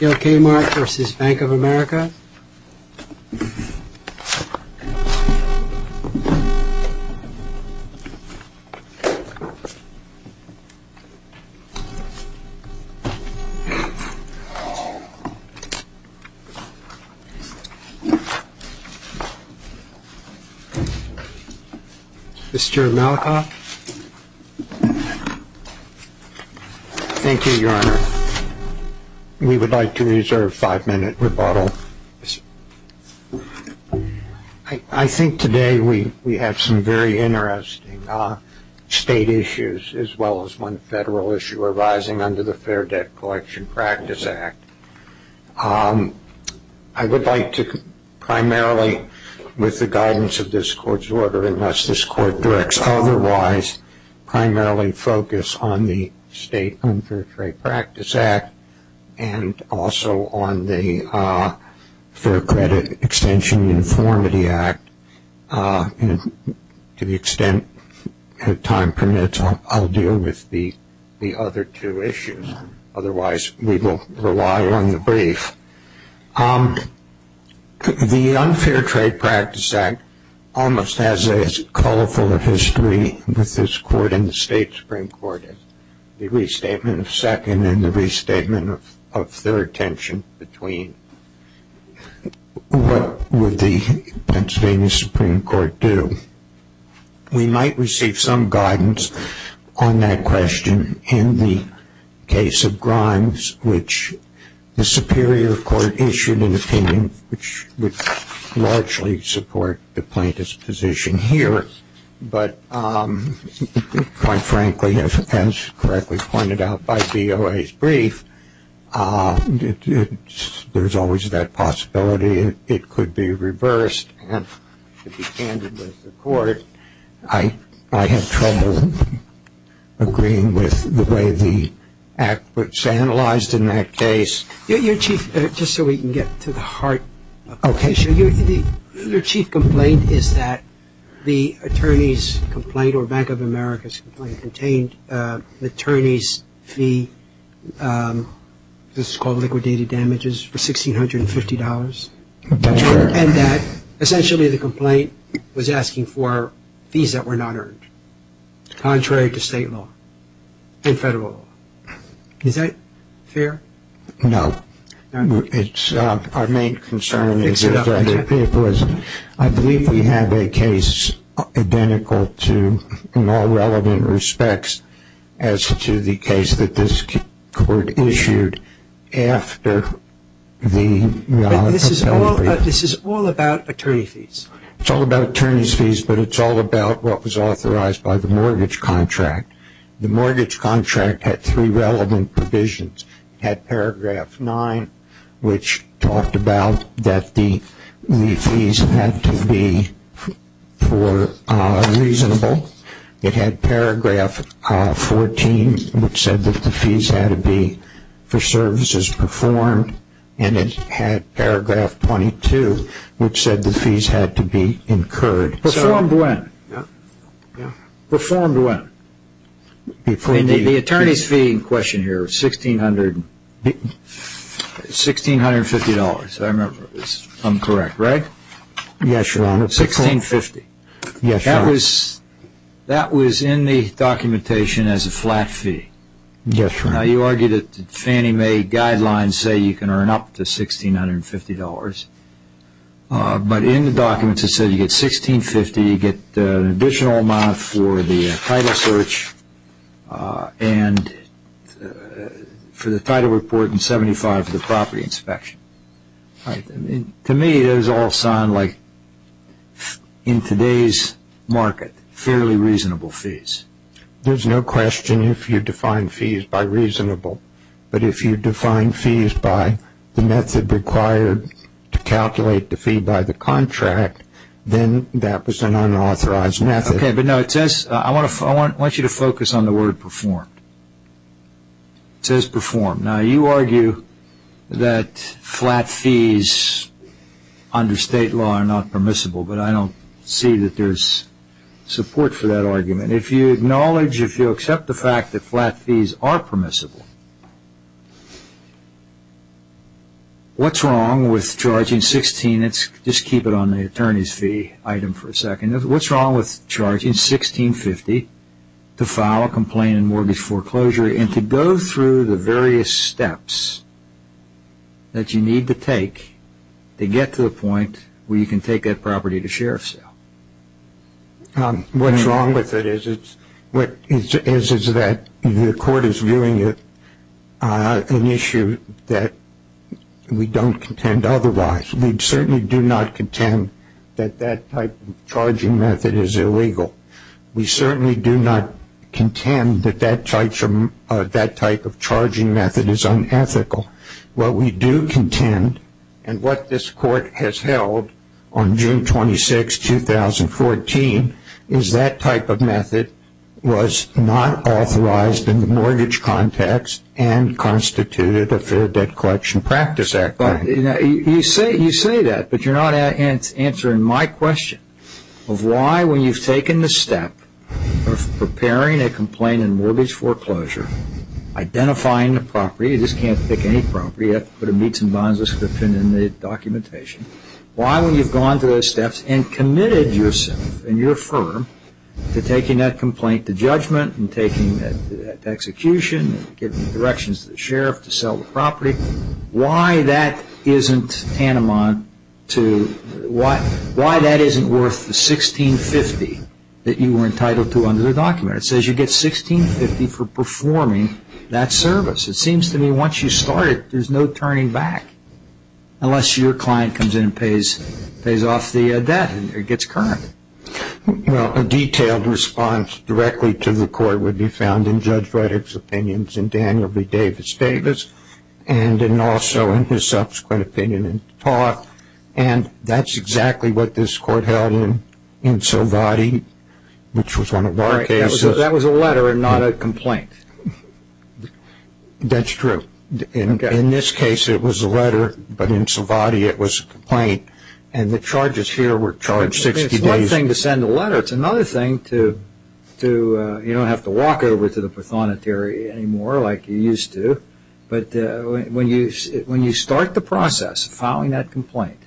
Bill Kaymark v. Bank of America Mr. Malikoff Thank you, Your Honor. We would like to reserve five-minute rebuttal. I think today we have some very interesting state issues as well as one federal issue arising under the Fair Debt Collection Practice Act. I would like to primarily, with the guidance of this Court's order, unless this Court directs otherwise, primarily focus on the State Unfair Trade Practice Act and also on the Fair Credit Extension Uniformity Act. To the extent that time permits, I will deal with the other two issues. Otherwise, we will rely on the brief. The Unfair Trade Practice Act almost has a colorful history with this Court and the State Supreme Court. The restatement of second and the restatement of third tension between what would the Pennsylvania Supreme Court do? We might receive some guidance on that question in the case of Grimes, which the Superior Court issued an opinion which would largely support the plaintiff's position here. But quite frankly, as correctly pointed out by BOA's brief, there's always that possibility it could be reversed and be handed with the Court. I have trouble agreeing with the way the Act was analyzed in that case. Your Chief, just so we can get to the heart of the issue, your Chief complaint is that the attorney's complaint or Bank of America's complaint contained an attorney's fee, this is called liquidated damages, for $1,650. That's correct. And that essentially the complaint was asking for fees that were not earned, contrary to State law and Federal law. Is that fair? No. Our main concern is that it was. I believe we have a case identical to, in all relevant respects, as to the case that this Court issued after the. This is all about attorney fees. It's all about attorney's fees, but it's all about what was authorized by the mortgage contract. The mortgage contract had three relevant provisions. It had paragraph 9, which talked about that the fees had to be reasonable. It had paragraph 14, which said that the fees had to be for services performed. And it had paragraph 22, which said the fees had to be incurred. Performed when? Performed when? The attorney's fee in question here was $1,650. I remember it was incorrect, right? Yes, Your Honor. $1,650. Yes, Your Honor. That was in the documentation as a flat fee. Yes, Your Honor. Now you argue that Fannie Mae guidelines say you can earn up to $1,650. But in the documents it said you get $1,650. You get an additional amount for the title search and for the title report and $75 for the property inspection. To me, those all sound like, in today's market, fairly reasonable fees. There's no question if you define fees by reasonable. But if you define fees by the method required to calculate the fee by the contract, then that was an unauthorized method. Okay, but no, I want you to focus on the word performed. It says performed. Now you argue that flat fees under state law are not permissible, but I don't see that there's support for that argument. If you acknowledge, if you accept the fact that flat fees are permissible, what's wrong with charging $1,650? Let's just keep it on the attorney's fee item for a second. What's wrong with charging $1,650 to file a complaint in mortgage foreclosure and to go through the various steps that you need to take to get to the point where you can take that property to sheriff sale? What's wrong with it is that the court is viewing it an issue that we don't contend otherwise. We certainly do not contend that that type of charging method is illegal. We certainly do not contend that that type of charging method is unethical. What we do contend, and what this court has held on June 26, 2014, is that type of method was not authorized in the mortgage context and constituted a Fair Debt Collection Practice Act. You say that, but you're not answering my question of why, when you've taken the step of preparing a complaint in mortgage foreclosure, identifying the property, you just can't pick any property, you have to put a Meats and Bonds description in the documentation, why when you've gone through those steps and committed yourself and your firm to taking that complaint to judgment and taking it to execution and giving directions to the sheriff to sell the property, why that isn't worth the $1,650 that you were entitled to under the document? It says you get $1,650 for performing that service. It seems to me once you start it, there's no turning back, unless your client comes in and pays off the debt and it gets current. A detailed response directly to the court would be found in Judge Reddick's opinions and Daniel V. Davis Davis, and also in his subsequent opinion and talk, and that's exactly what this court held in Sovati, which was one of our cases. So that was a letter and not a complaint? That's true. In this case it was a letter, but in Sovati it was a complaint, and the charges here were charged 60 days. It's one thing to send a letter, it's another thing to, you don't have to walk over to the prothonotary anymore like you used to, but when you start the process of filing that complaint,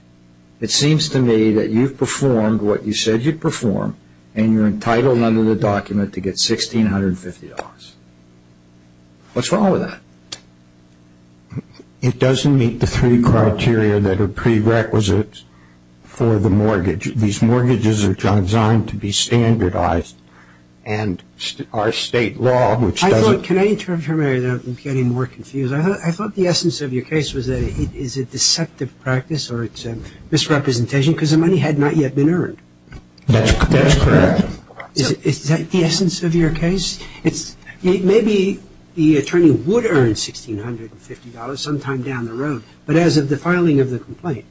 it seems to me that you've performed what you said you'd perform and you're entitled under the document to get $1,650. What's wrong with that? It doesn't meet the three criteria that are prerequisite for the mortgage. These mortgages are designed to be standardized, and our state law, which doesn't – I thought – can I interrupt you for a minute? I'm getting more confused. I thought the essence of your case was that it is a deceptive practice or it's a misrepresentation because the money had not yet been earned. That's correct. Is that the essence of your case? Maybe the attorney would earn $1,650 sometime down the road, but as of the filing of the complaint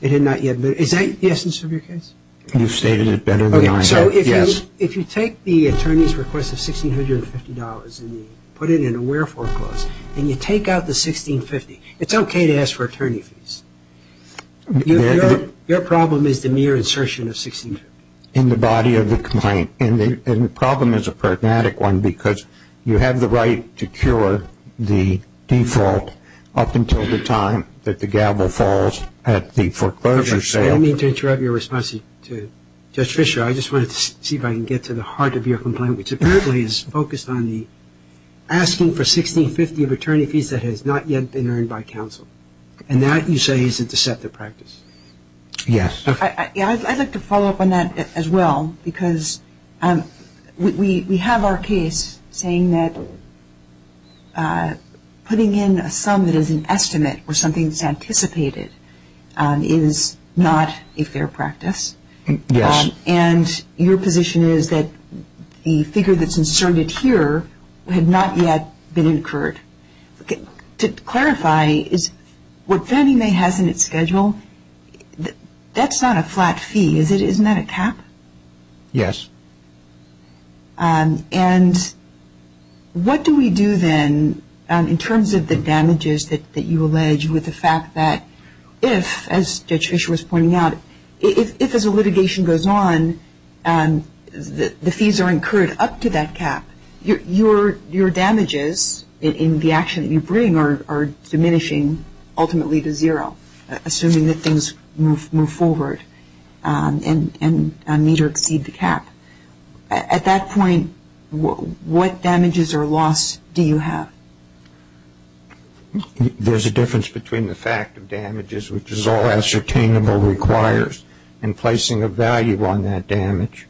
it had not yet been – is that the essence of your case? You've stated it better than I have, yes. Okay, so if you take the attorney's request of $1,650 and you put it in a wherefore clause and you take out the $1,650, it's okay to ask for attorney fees. Your problem is the mere insertion of $1,650. In the body of the complaint. And the problem is a pragmatic one because you have the right to cure the default up until the time that the gavel falls at the foreclosure sale. Let me interrupt your response to Judge Fischer. I just wanted to see if I can get to the heart of your complaint, which apparently is focused on the asking for $1,650 of attorney fees that has not yet been earned by counsel. And that, you say, is a deceptive practice. Yes. I'd like to follow up on that as well because we have our case saying that putting in a sum that is an estimate or something that's anticipated is not a fair practice. Yes. And your position is that the figure that's inserted here had not yet been incurred. To clarify, what Fannie Mae has in its schedule, that's not a flat fee, is it? Isn't that a cap? Yes. And what do we do then in terms of the damages that you allege with the fact that if, as Judge Fischer was pointing out, if as a litigation goes on, the fees are incurred up to that cap, your damages in the action that you bring are diminishing ultimately to zero, assuming that things move forward and meet or exceed the cap. At that point, what damages or loss do you have? There's a difference between the fact of damages, which is all ascertainable requires, and placing a value on that damage.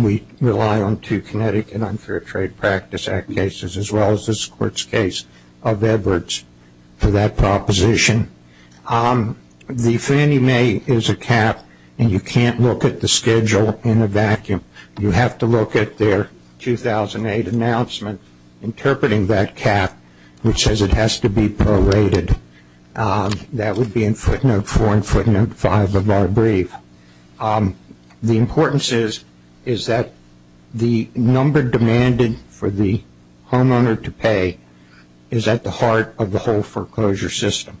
We rely on two Connecticut Unfair Trade Practice Act cases as well as this Court's case of Edwards for that proposition. The Fannie Mae is a cap, and you can't look at the schedule in a vacuum. You have to look at their 2008 announcement interpreting that cap, which says it has to be prorated. That would be in footnote four and footnote five of our brief. The importance is that the number demanded for the homeowner to pay is at the heart of the whole foreclosure system.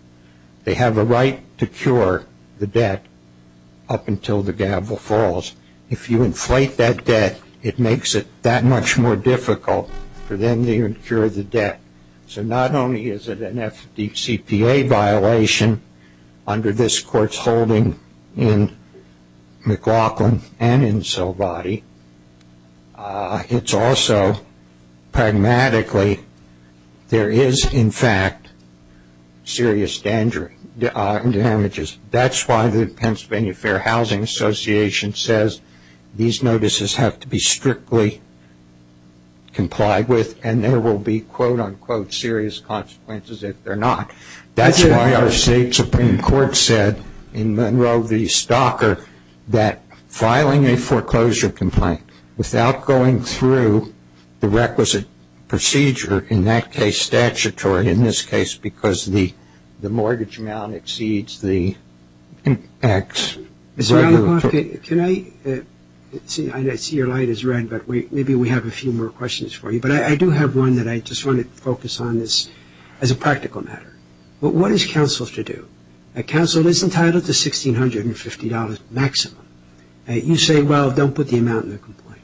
They have a right to cure the debt up until the gavel falls. If you inflate that debt, it makes it that much more difficult for them to incur the debt. So not only is it an FDCPA violation under this Court's holding in McLaughlin and in Silvadi, it's also pragmatically there is, in fact, serious damages. That's why the Pennsylvania Fair Housing Association says these notices have to be strictly complied with, and there will be, quote, unquote, serious consequences if they're not. That's why our state Supreme Court said in Monroe v. Stocker that filing a foreclosure complaint without going through the requisite procedure, in that case statutory, in this case, because the mortgage amount exceeds the X. I see your light is red, but maybe we have a few more questions for you. But I do have one that I just want to focus on as a practical matter. What is counsel to do? Counsel is entitled to $1,650 maximum. You say, well, don't put the amount in the complaint.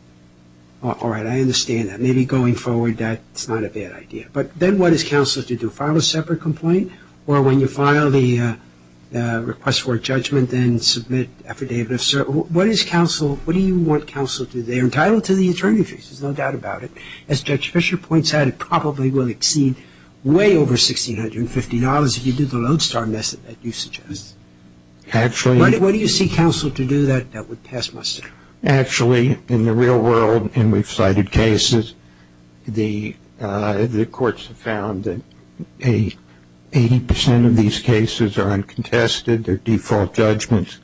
All right, I understand that. Maybe going forward that's not a bad idea. But then what is counsel to do? When you file a separate complaint or when you file the request for judgment and submit affidavit of cert, what is counsel, what do you want counsel to do? They're entitled to the attorney fees, there's no doubt about it. As Judge Fischer points out, it probably will exceed way over $1,650 if you do the lodestar method that you suggest. What do you see counsel to do that would pass muster? Actually, in the real world, and we've cited cases, the courts have found that 80% of these cases are uncontested, they're default judgments.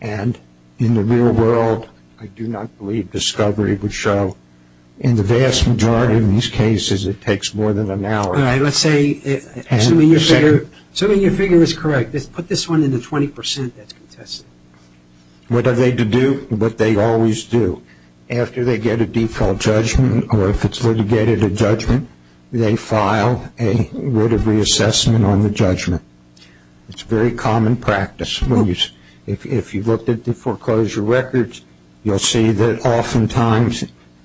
And in the real world, I do not believe discovery would show. In the vast majority of these cases, it takes more than an hour. All right, let's say something you figure is correct. Put this one in the 20% that's contested. What are they to do? What they always do. After they get a default judgment or if it's litigated a judgment, they file a word of reassessment on the judgment. It's very common practice. If you've looked at the foreclosure records, you'll see that oftentimes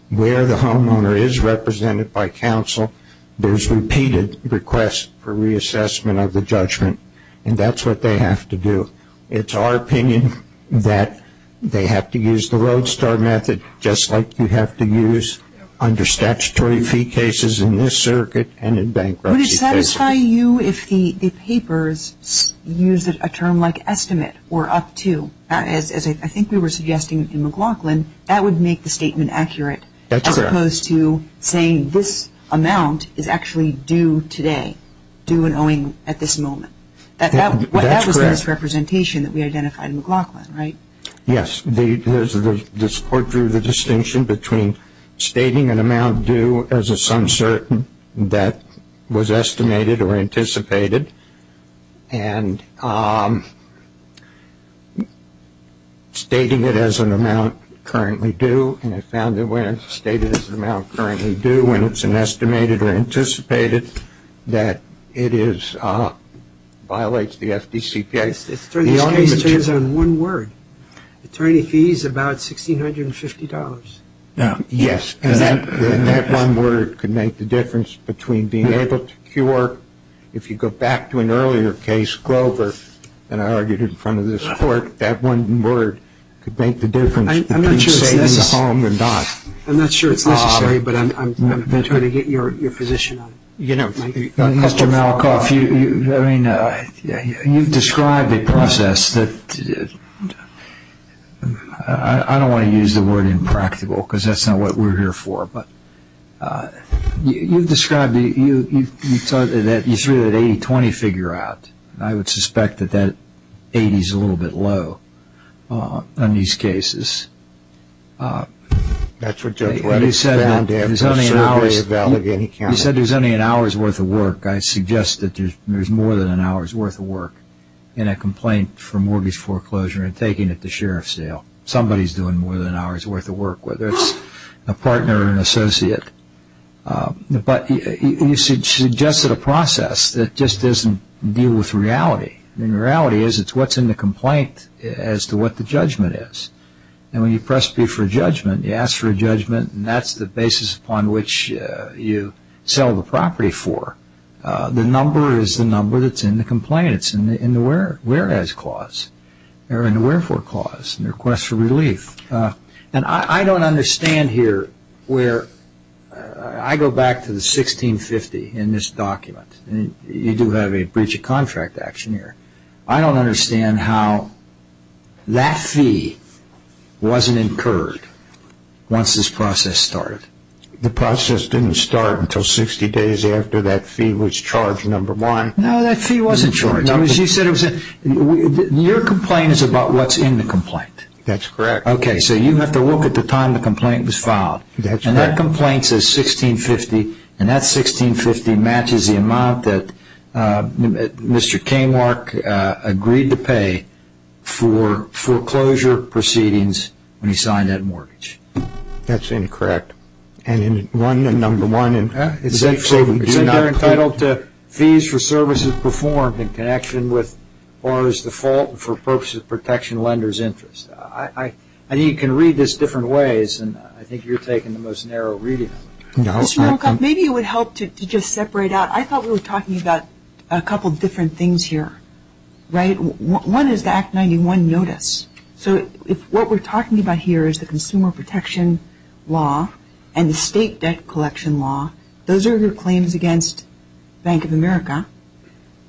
where the homeowner is represented by counsel, there's repeated requests for reassessment of the judgment. And that's what they have to do. It's our opinion that they have to use the road star method, just like you have to use under statutory fee cases in this circuit and in bankruptcy cases. Would it satisfy you if the papers used a term like estimate or up to? As I think we were suggesting in McLaughlin, that would make the statement accurate. That's correct. As opposed to saying this amount is actually due today, due and owing at this moment. That was misrepresentation that we identified in McLaughlin, right? Yes. This court drew the distinction between stating an amount due as a some certain that was estimated or anticipated and stating it as an amount currently due. And I found that when it's stated as an amount currently due, and it's an estimated or anticipated, that it violates the FDCPA. It's on one word. Attorney fees about $1,650. Yes. And that one word could make the difference between being able to cure. If you go back to an earlier case, Glover, and I argued in front of this court, that one word could make the difference between saving the home and not. I'm not sure it's necessary, but I'm trying to get your position on it. Mr. Malikoff, you've described a process that I don't want to use the word impractical, because that's not what we're here for, but you've described that you threw that 80-20 figure out. I would suspect that that 80 is a little bit low on these cases. That's what Judge Redding found after a survey of Allegheny County. You said there's only an hour's worth of work. I suggest that there's more than an hour's worth of work in a complaint for mortgage foreclosure and taking it to sheriff's jail. Somebody's doing more than an hour's worth of work, whether it's a partner or an associate. But you suggested a process that just doesn't deal with reality. Reality is it's what's in the complaint as to what the judgment is. When you press B for judgment, you ask for a judgment, and that's the basis upon which you sell the property for. The number is the number that's in the complaint. It's in the wherefore clause, the request for relief. I don't understand here where I go back to the 1650 in this document. You do have a breach of contract action here. I don't understand how that fee wasn't incurred once this process started. The process didn't start until 60 days after that fee was charged, number one. No, that fee wasn't charged. Your complaint is about what's in the complaint. That's correct. Okay, so you have to look at the time the complaint was filed. That's correct. That complaint says 1650, and that 1650 matches the amount that Mr. Kamarck agreed to pay for foreclosure proceedings when he signed that mortgage. That's incorrect. And one, and number one. It said you're entitled to fees for services performed in connection with for purposes of protection of lenders' interest. I think you can read this different ways, and I think you're taking the most narrow reading of it. Maybe it would help to just separate out. I thought we were talking about a couple of different things here, right? One is the Act 91 notice. So what we're talking about here is the consumer protection law and the state debt collection law. Those are your claims against Bank of America,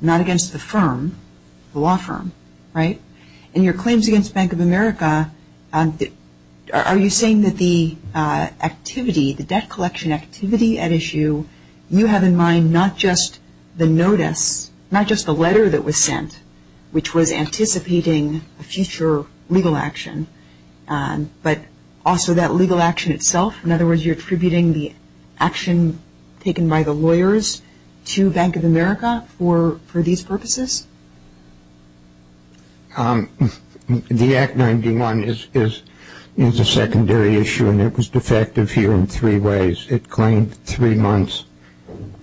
not against the firm. The law firm, right? And your claims against Bank of America, are you saying that the activity, the debt collection activity at issue, you have in mind not just the notice, not just the letter that was sent, which was anticipating a future legal action, but also that legal action itself? In other words, you're attributing the action taken by the lawyers to Bank of America for these purposes? The Act 91 is a secondary issue, and it was defective here in three ways. It claimed three months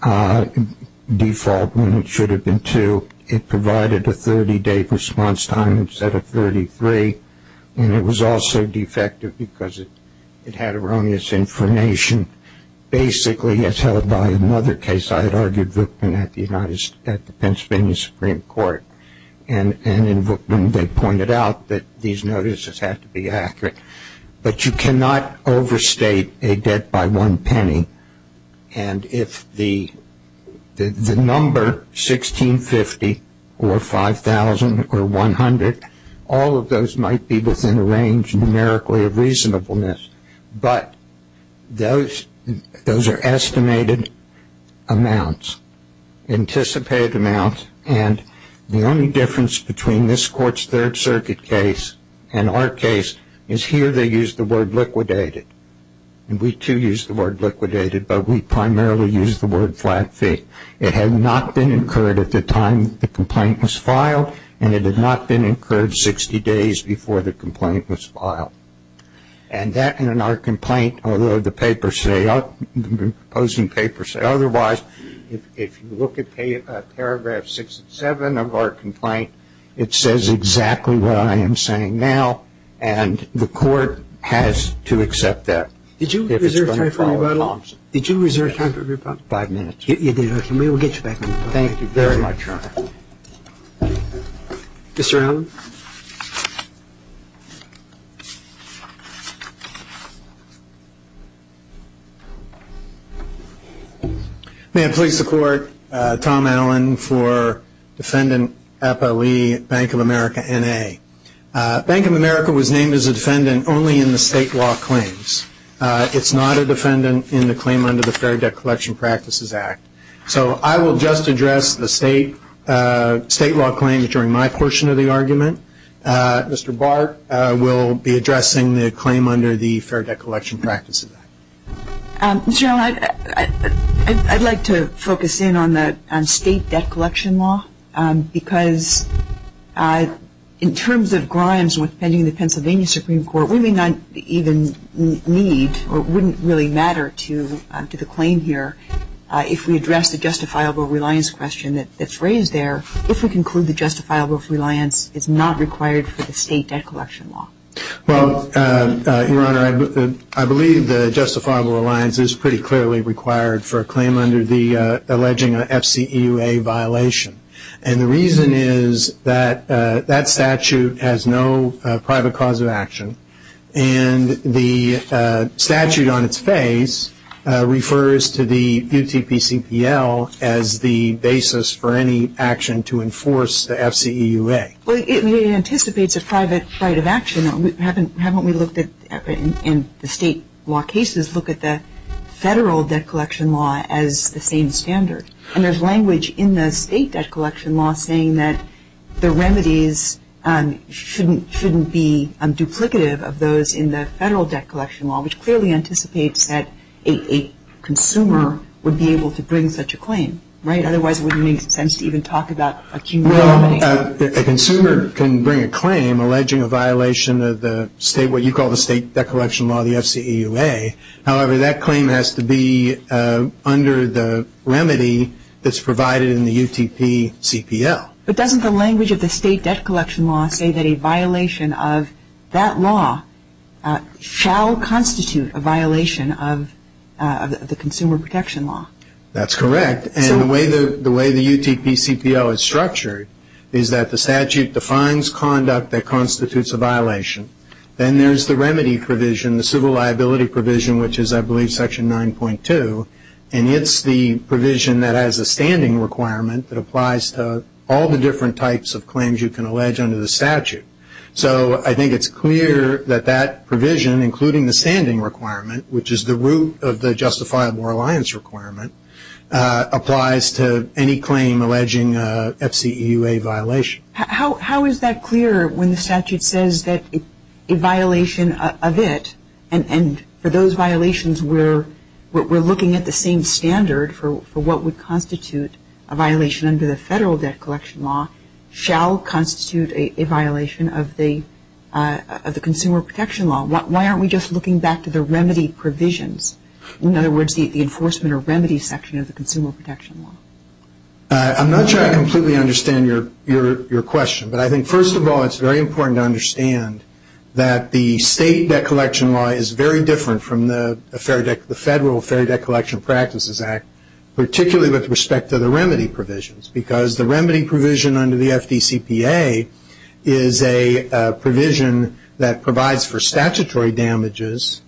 default when it should have been two. It provided a 30-day response time instead of 33, and it was also defective because it had erroneous information, basically as held by another case. I had argued Vukman at the Pennsylvania Supreme Court, and in Vukman they pointed out that these notices had to be accurate. But you cannot overstate a debt by one penny, and if the number 1650 or 5,000 or 100, all of those might be within a range numerically of reasonableness, but those are estimated amounts, anticipated amounts, and the only difference between this Court's Third Circuit case and our case is here they use the word liquidated. We, too, use the word liquidated, but we primarily use the word flat fee. It had not been incurred at the time the complaint was filed, and it had not been incurred 60 days before the complaint was filed. And that in our complaint, although the papers say otherwise, if you look at paragraph 6 and 7 of our complaint, it says exactly what I am saying now, and the Court has to accept that. Did you reserve time for me, by law? Did you reserve time for me, by law? Five minutes. You did. We will get you back on time. Thank you very much, Your Honor. Mr. Allen. Thank you. May it please the Court, Tom Allen for Defendant Epa Lee, Bank of America N.A. Bank of America was named as a defendant only in the state law claims. It is not a defendant in the claim under the Fair Debt Collection Practices Act. So I will just address the state law claims during my portion of the argument. Mr. Bart will be addressing the claim under the Fair Debt Collection Practices Act. Mr. Allen, I would like to focus in on state debt collection law, because in terms of grimes with pending the Pennsylvania Supreme Court, we may not even need or wouldn't really matter to the claim here if we address the justifiable reliance question that is raised there, if we conclude the justifiable reliance is not required for the state debt collection law. Well, Your Honor, I believe the justifiable reliance is pretty clearly required for a claim under the alleging FCEUA violation. And the reason is that that statute has no private cause of action. And the statute on its face refers to the UTPCPL as the basis for any action to enforce the FCEUA. Well, it anticipates a private right of action. Haven't we looked at, in the state law cases, look at the federal debt collection law as the same standard? And there's language in the state debt collection law saying that the remedies shouldn't be duplicative of those in the federal debt collection law, which clearly anticipates that a consumer would be able to bring such a claim, right? Otherwise, it wouldn't make sense to even talk about a cumulative. Well, a consumer can bring a claim alleging a violation of the state, what you call the state debt collection law, the FCEUA. However, that claim has to be under the remedy that's provided in the UTPCPL. But doesn't the language of the state debt collection law say that a violation of that law shall constitute a violation of the consumer protection law? That's correct. And the way the UTPCPL is structured is that the statute defines conduct that constitutes a violation. Then there's the remedy provision, the civil liability provision, which is, I believe, Section 9.2. And it's the provision that has a standing requirement that applies to all the different types of claims you can allege under the statute. So I think it's clear that that provision, including the standing requirement, which is the root of the justifiable reliance requirement, applies to any claim alleging a FCEUA violation. How is that clear when the statute says that a violation of it, and for those violations we're looking at the same standard for what would constitute a violation under the federal debt collection law, shall constitute a violation of the consumer protection law? Why aren't we just looking back to the remedy provisions? In other words, the enforcement or remedy section of the consumer protection law. I'm not sure I completely understand your question. But I think, first of all, it's very important to understand that the state debt collection law is very different from the federal Fair Debt Collection Practices Act, particularly with respect to the remedy provisions. Because the remedy provision under the FDCPA is a provision that provides for statutory damages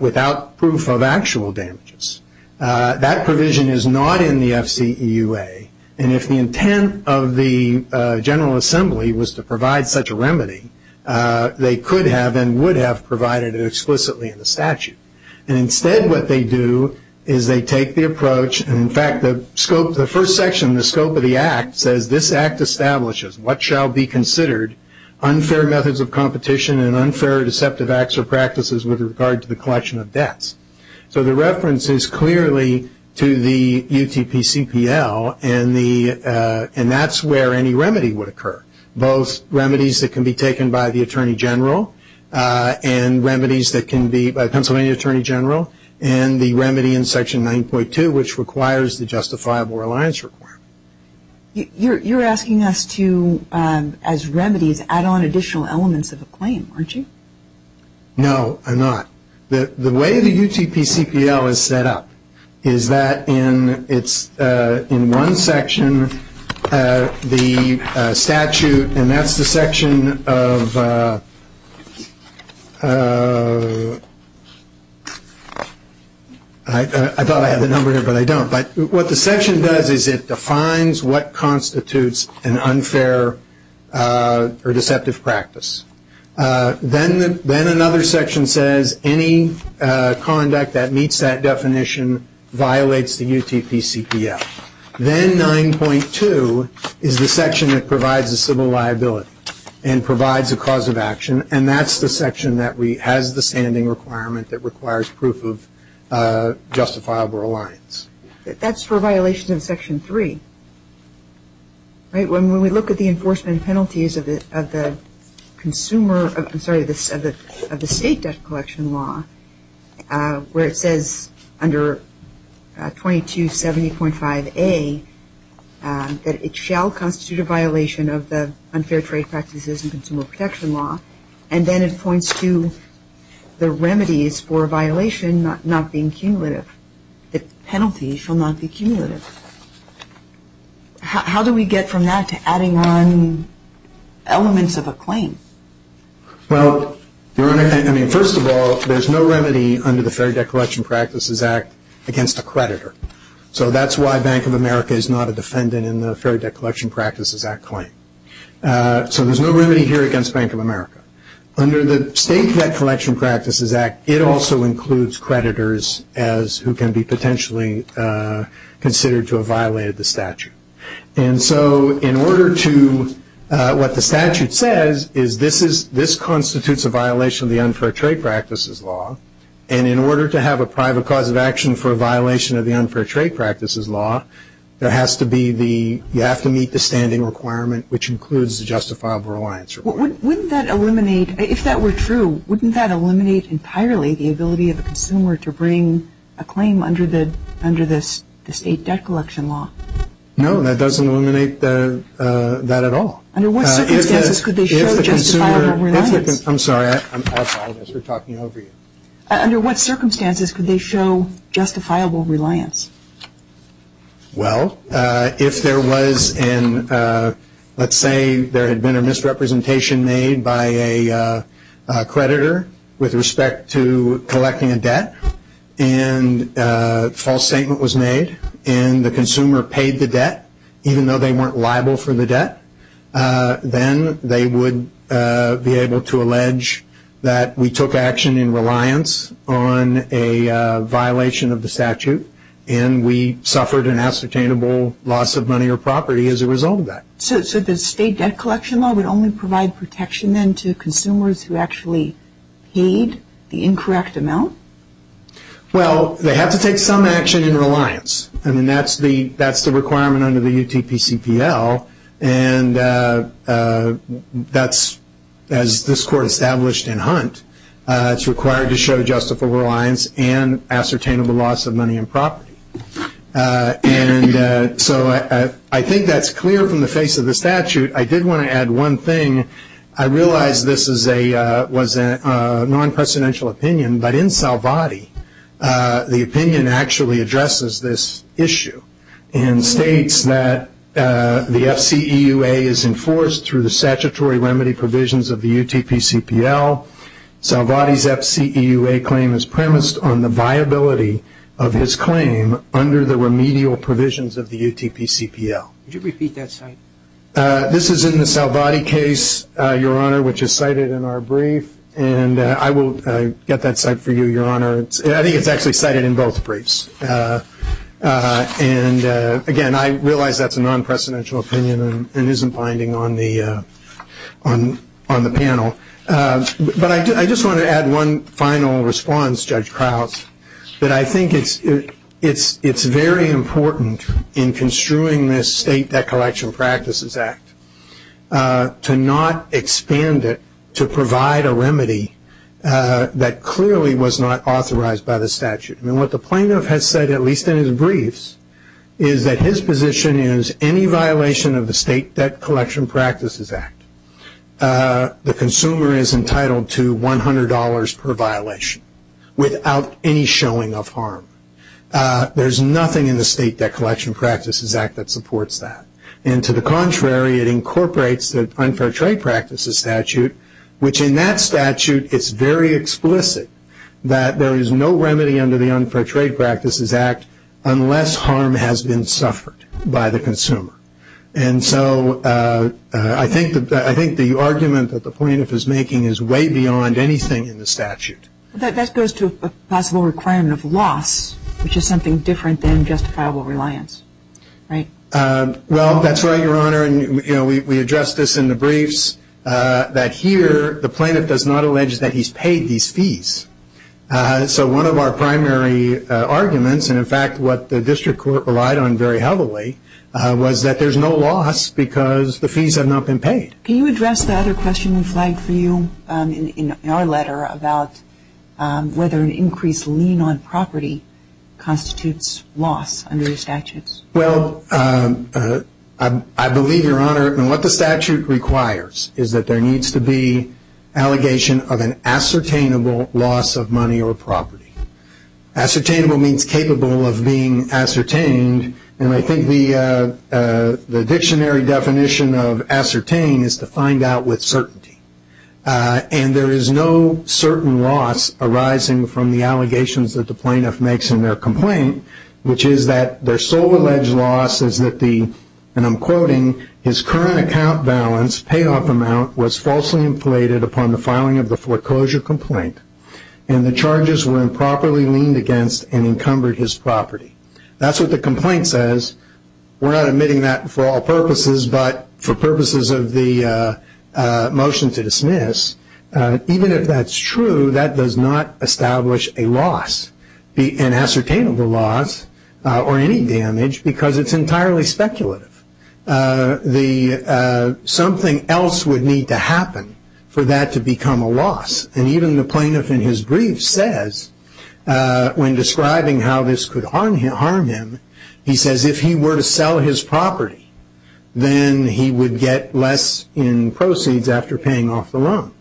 without proof of actual damages. That provision is not in the FCEUA. And if the intent of the General Assembly was to provide such a remedy, they could have and would have provided it explicitly in the statute. And instead what they do is they take the approach, and in fact the first section in the scope of the act says, this act establishes what shall be considered unfair methods of competition and unfair or deceptive acts or practices with regard to the collection of debts. So the reference is clearly to the UTPCPL, and that's where any remedy would occur. Both remedies that can be taken by the Attorney General and remedies that can be by Pennsylvania Attorney General, and the remedy in section 9.2 which requires the justifiable reliance requirement. You're asking us to, as remedies, add on additional elements of a claim, aren't you? No, I'm not. The way the UTPCPL is set up is that in one section the statute, and that's the section of, I thought I had the number here, but I don't. But what the section does is it defines what constitutes an unfair or deceptive practice. Then another section says any conduct that meets that definition violates the UTPCPL. Then 9.2 is the section that provides a civil liability and provides a cause of action, and that's the section that has the standing requirement that requires proof of justifiable reliance. That's for violations of section 3, right? When we look at the enforcement penalties of the state debt collection law, where it says under 2270.5A that it shall constitute a violation of the unfair trade practices and consumer protection law, and then it points to the remedies for a violation not being cumulative. The penalties shall not be cumulative. How do we get from that to adding on elements of a claim? Well, Your Honor, I mean, first of all, there's no remedy under the Fair Debt Collection Practices Act against a creditor. So that's why Bank of America is not a defendant in the Fair Debt Collection Practices Act claim. So there's no remedy here against Bank of America. Under the State Debt Collection Practices Act, it also includes creditors who can be potentially considered to have violated the statute. And so in order to what the statute says is this constitutes a violation of the unfair trade practices law, and in order to have a private cause of action for a violation of the unfair trade practices law, you have to meet the standing requirement, which includes the justifiable reliance. Wouldn't that eliminate, if that were true, wouldn't that eliminate entirely the ability of a consumer to bring a claim under the State Debt Collection law? No, that doesn't eliminate that at all. Under what circumstances could they show justifiable reliance? I'm sorry, I apologize for talking over you. Under what circumstances could they show justifiable reliance? Well, if there was an, let's say there had been a misrepresentation made by a creditor with respect to collecting a debt and a false statement was made and the consumer paid the debt, even though they weren't liable for the debt, then they would be able to allege that we took action in reliance on a violation of the statute and we suffered an ascertainable loss of money or property as a result of that. So the State Debt Collection law would only provide protection then to consumers who actually paid the incorrect amount? Well, they have to take some action in reliance. I mean, that's the requirement under the UTPCPL, and that's, as this court established in Hunt, it's required to show justifiable reliance and ascertainable loss of money and property. And so I think that's clear from the face of the statute. I did want to add one thing. I realize this was a non-presidential opinion, but in Salvati, the opinion actually addresses this issue and states that the FCEUA is enforced through the statutory remedy provisions of the UTPCPL. Salvati's FCEUA claim is premised on the viability of his claim under the remedial provisions of the UTPCPL. Could you repeat that, sir? This is in the Salvati case, Your Honor, which is cited in our brief. And I will get that cite for you, Your Honor. I think it's actually cited in both briefs. And, again, I realize that's a non-presidential opinion and isn't binding on the panel. But I just want to add one final response, Judge Krauss, that I think it's very important in construing this State Debt Collection Practices Act to not expand it to provide a remedy that clearly was not authorized by the statute. And what the plaintiff has said, at least in his briefs, is that his position is any violation of the State Debt Collection Practices Act, the consumer is entitled to $100 per violation without any showing of harm. There's nothing in the State Debt Collection Practices Act that supports that. And, to the contrary, it incorporates the Unfair Trade Practices Statute, which in that statute it's very explicit that there is no remedy under the Unfair Trade Practices Act unless harm has been suffered by the consumer. And so I think the argument that the plaintiff is making is way beyond anything in the statute. But that goes to a possible requirement of loss, which is something different than justifiable reliance, right? Well, that's right, Your Honor. And, you know, we addressed this in the briefs, that here the plaintiff does not allege that he's paid these fees. So one of our primary arguments, and, in fact, what the district court relied on very heavily, was that there's no loss because the fees have not been paid. Can you address the other question we flagged for you in our letter about whether an increased lien on property constitutes loss under the statutes? Well, I believe, Your Honor, what the statute requires is that there needs to be allegation of an ascertainable loss of money or property. Ascertainable means capable of being ascertained, and I think the dictionary definition of ascertain is to find out with certainty. And there is no certain loss arising from the allegations that the plaintiff makes in their complaint, which is that their sole alleged loss is that the, and I'm quoting, his current account balance, payoff amount, was falsely inflated upon the filing of the foreclosure complaint and the charges were improperly leaned against and encumbered his property. That's what the complaint says. We're not admitting that for all purposes but for purposes of the motion to dismiss. Even if that's true, that does not establish a loss, an ascertainable loss or any damage, because it's entirely speculative. Something else would need to happen for that to become a loss, and even the plaintiff in his brief says, when describing how this could harm him, he says if he were to sell his property, then he would get less in proceeds after paying off the loan.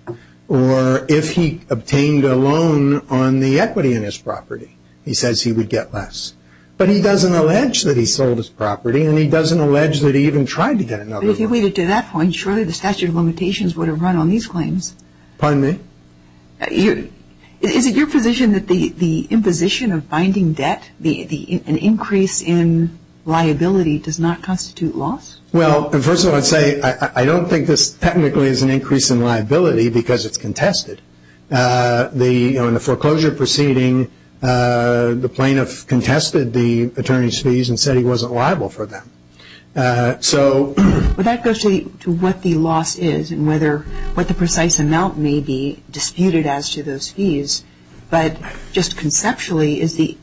Or if he obtained a loan on the equity in his property, he says he would get less. But he doesn't allege that he sold his property and he doesn't allege that he even tried to get another loan. But if he waited to that point, surely the statute of limitations would have run on these claims. Pardon me? Is it your position that the imposition of binding debt, an increase in liability, does not constitute loss? Well, first of all, I'd say I don't think this technically is an increase in liability because it's contested. In the foreclosure proceeding, the plaintiff contested the attorney's fees and said he wasn't liable for them. That goes to what the loss is and what the precise amount may be disputed as to those fees. But just conceptually,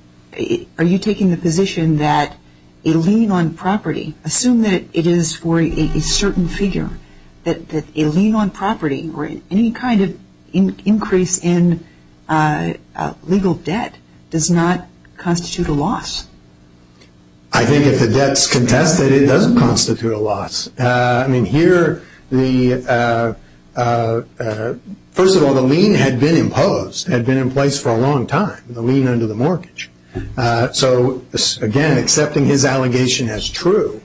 are you taking the position that a lien on property, assume that it is for a certain figure, that a lien on property or any kind of increase in legal debt does not constitute a loss? I think if the debt's contested, it doesn't constitute a loss. I mean, here, first of all, the lien had been imposed, had been in place for a long time, the lien under the mortgage. So, again, accepting his allegation as true,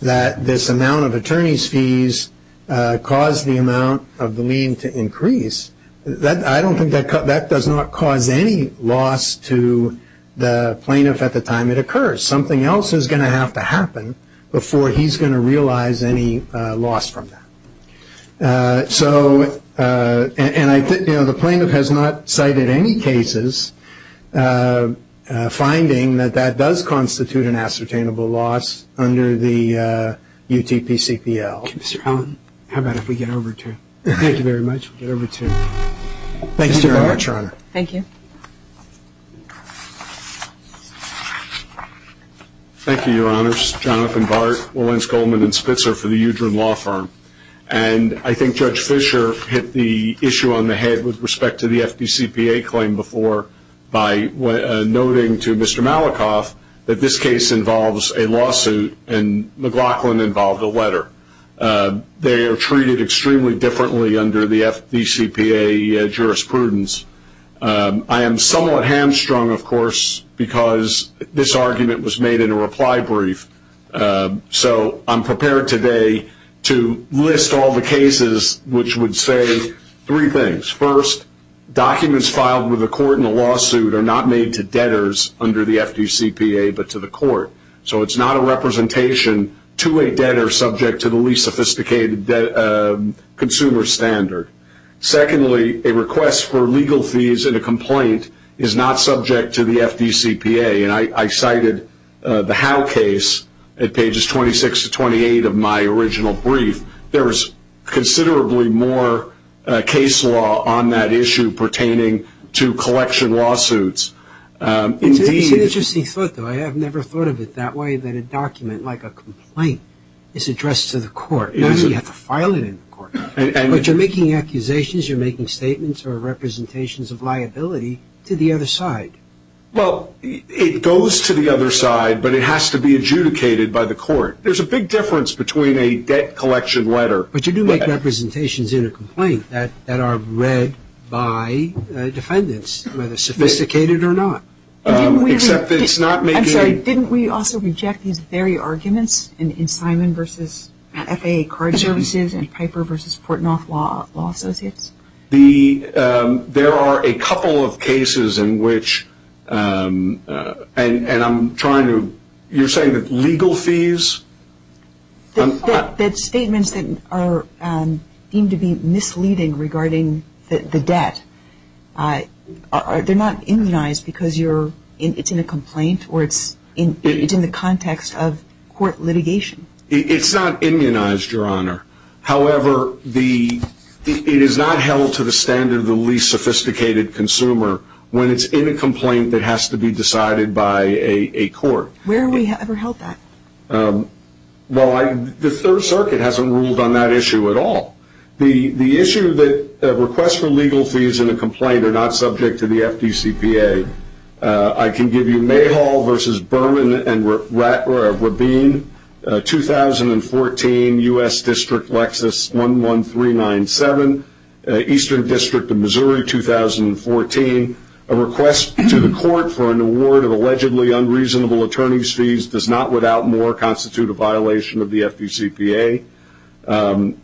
that this amount of attorney's fees caused the amount of the lien to increase, I don't think that does not cause any loss to the plaintiff at the time it occurs. Something else is going to have to happen before he's going to realize any loss from that. So, and I think, you know, the plaintiff has not cited any cases finding that that does constitute an ascertainable loss under the UTPCPL. Mr. Allen, how about if we get over to, thank you very much, we'll get over to Mr. Bartsch, Your Honor. Thank you. Thank you, Your Honors. Jonathan Bartsch, Lawrence Goldman & Spitzer for the Udren Law Firm. And I think Judge Fischer hit the issue on the head with respect to the FDCPA claim before by noting to Mr. Malikoff that this case involves a lawsuit and McLaughlin involved a letter. They are treated extremely differently under the FDCPA jurisprudence. I am somewhat hamstrung, of course, because this argument was made in a reply brief. So I'm prepared today to list all the cases which would say three things. First, documents filed with a court in a lawsuit are not made to debtors under the FDCPA but to the court. So it's not a representation to a debtor subject to the least sophisticated consumer standard. Secondly, a request for legal fees in a complaint is not subject to the FDCPA. And I cited the Howe case at pages 26 to 28 of my original brief. There is considerably more case law on that issue pertaining to collection lawsuits. Indeed. It's an interesting thought, though. I have never thought of it that way, that a document like a complaint is addressed to the court. Not that you have to file it in court. But you're making accusations, you're making statements or representations of liability to the other side. Well, it goes to the other side, but it has to be adjudicated by the court. There's a big difference between a debt collection letter. But you do make representations in a complaint that are read by defendants, whether sophisticated or not. Except it's not making – I'm sorry. Didn't we also reject these very arguments in Simon v. FAA card services and Piper v. Portnoff Law Associates? There are a couple of cases in which – and I'm trying to – you're saying that legal fees? That statements that are deemed to be misleading regarding the debt, they're not immunized because it's in a complaint or it's in the context of court litigation. It's not immunized, Your Honor. However, it is not held to the standard of the least sophisticated consumer when it's in a complaint that has to be decided by a court. Where have we ever held that? Well, the Third Circuit hasn't ruled on that issue at all. The issue that requests for legal fees in a complaint are not subject to the FDCPA. I can give you Mayhall v. Berman v. Rabin, 2014, U.S. District, Lexus, 11397, Eastern District of Missouri, 2014. A request to the court for an award of allegedly unreasonable attorney's fees does not, without more, constitute a violation of the FDCPA.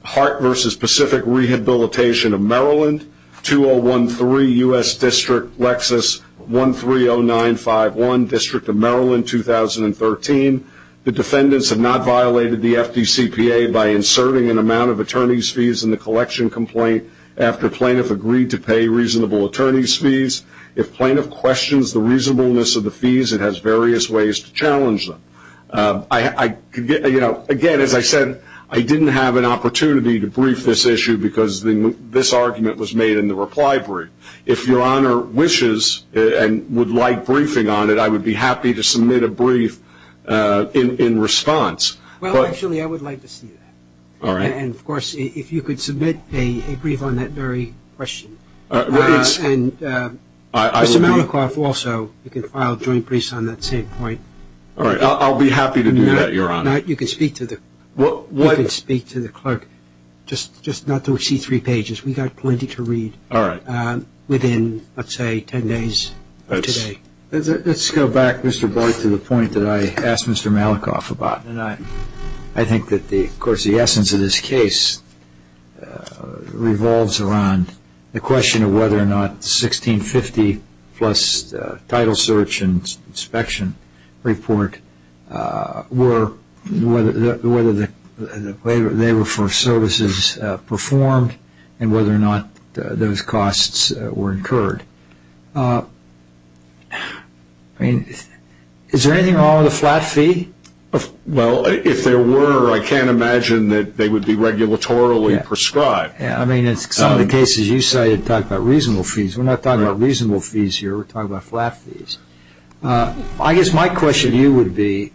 Hart v. Pacific Rehabilitation of Maryland, 2013, U.S. District, Lexus, 130951, District of Maryland, 2013. The defendants have not violated the FDCPA by inserting an amount of attorney's fees in the collection complaint after plaintiff agreed to pay reasonable attorney's fees. If plaintiff questions the reasonableness of the fees, it has various ways to challenge them. Again, as I said, I didn't have an opportunity to brief this issue because this argument was made in the reply brief. If Your Honor wishes and would like briefing on it, I would be happy to submit a brief in response. Well, actually, I would like to see that. All right. And, of course, if you could submit a brief on that very question. And, Mr. Malikoff, also, you can file a joint brief on that same point. All right. I'll be happy to do that, Your Honor. You can speak to the clerk, just not to exceed three pages. We've got plenty to read within, let's say, ten days of today. Let's go back, Mr. Boyd, to the point that I asked Mr. Malikoff about. I think that, of course, the essence of this case revolves around the question of whether or not the $1650 plus title search and inspection report were for services performed and whether or not those costs were incurred. I mean, is there anything wrong with the flat fee? Well, if there were, I can't imagine that they would be regulatorily prescribed. Yeah, I mean, in some of the cases you cited talk about reasonable fees. We're not talking about reasonable fees here. We're talking about flat fees. I guess my question to you would be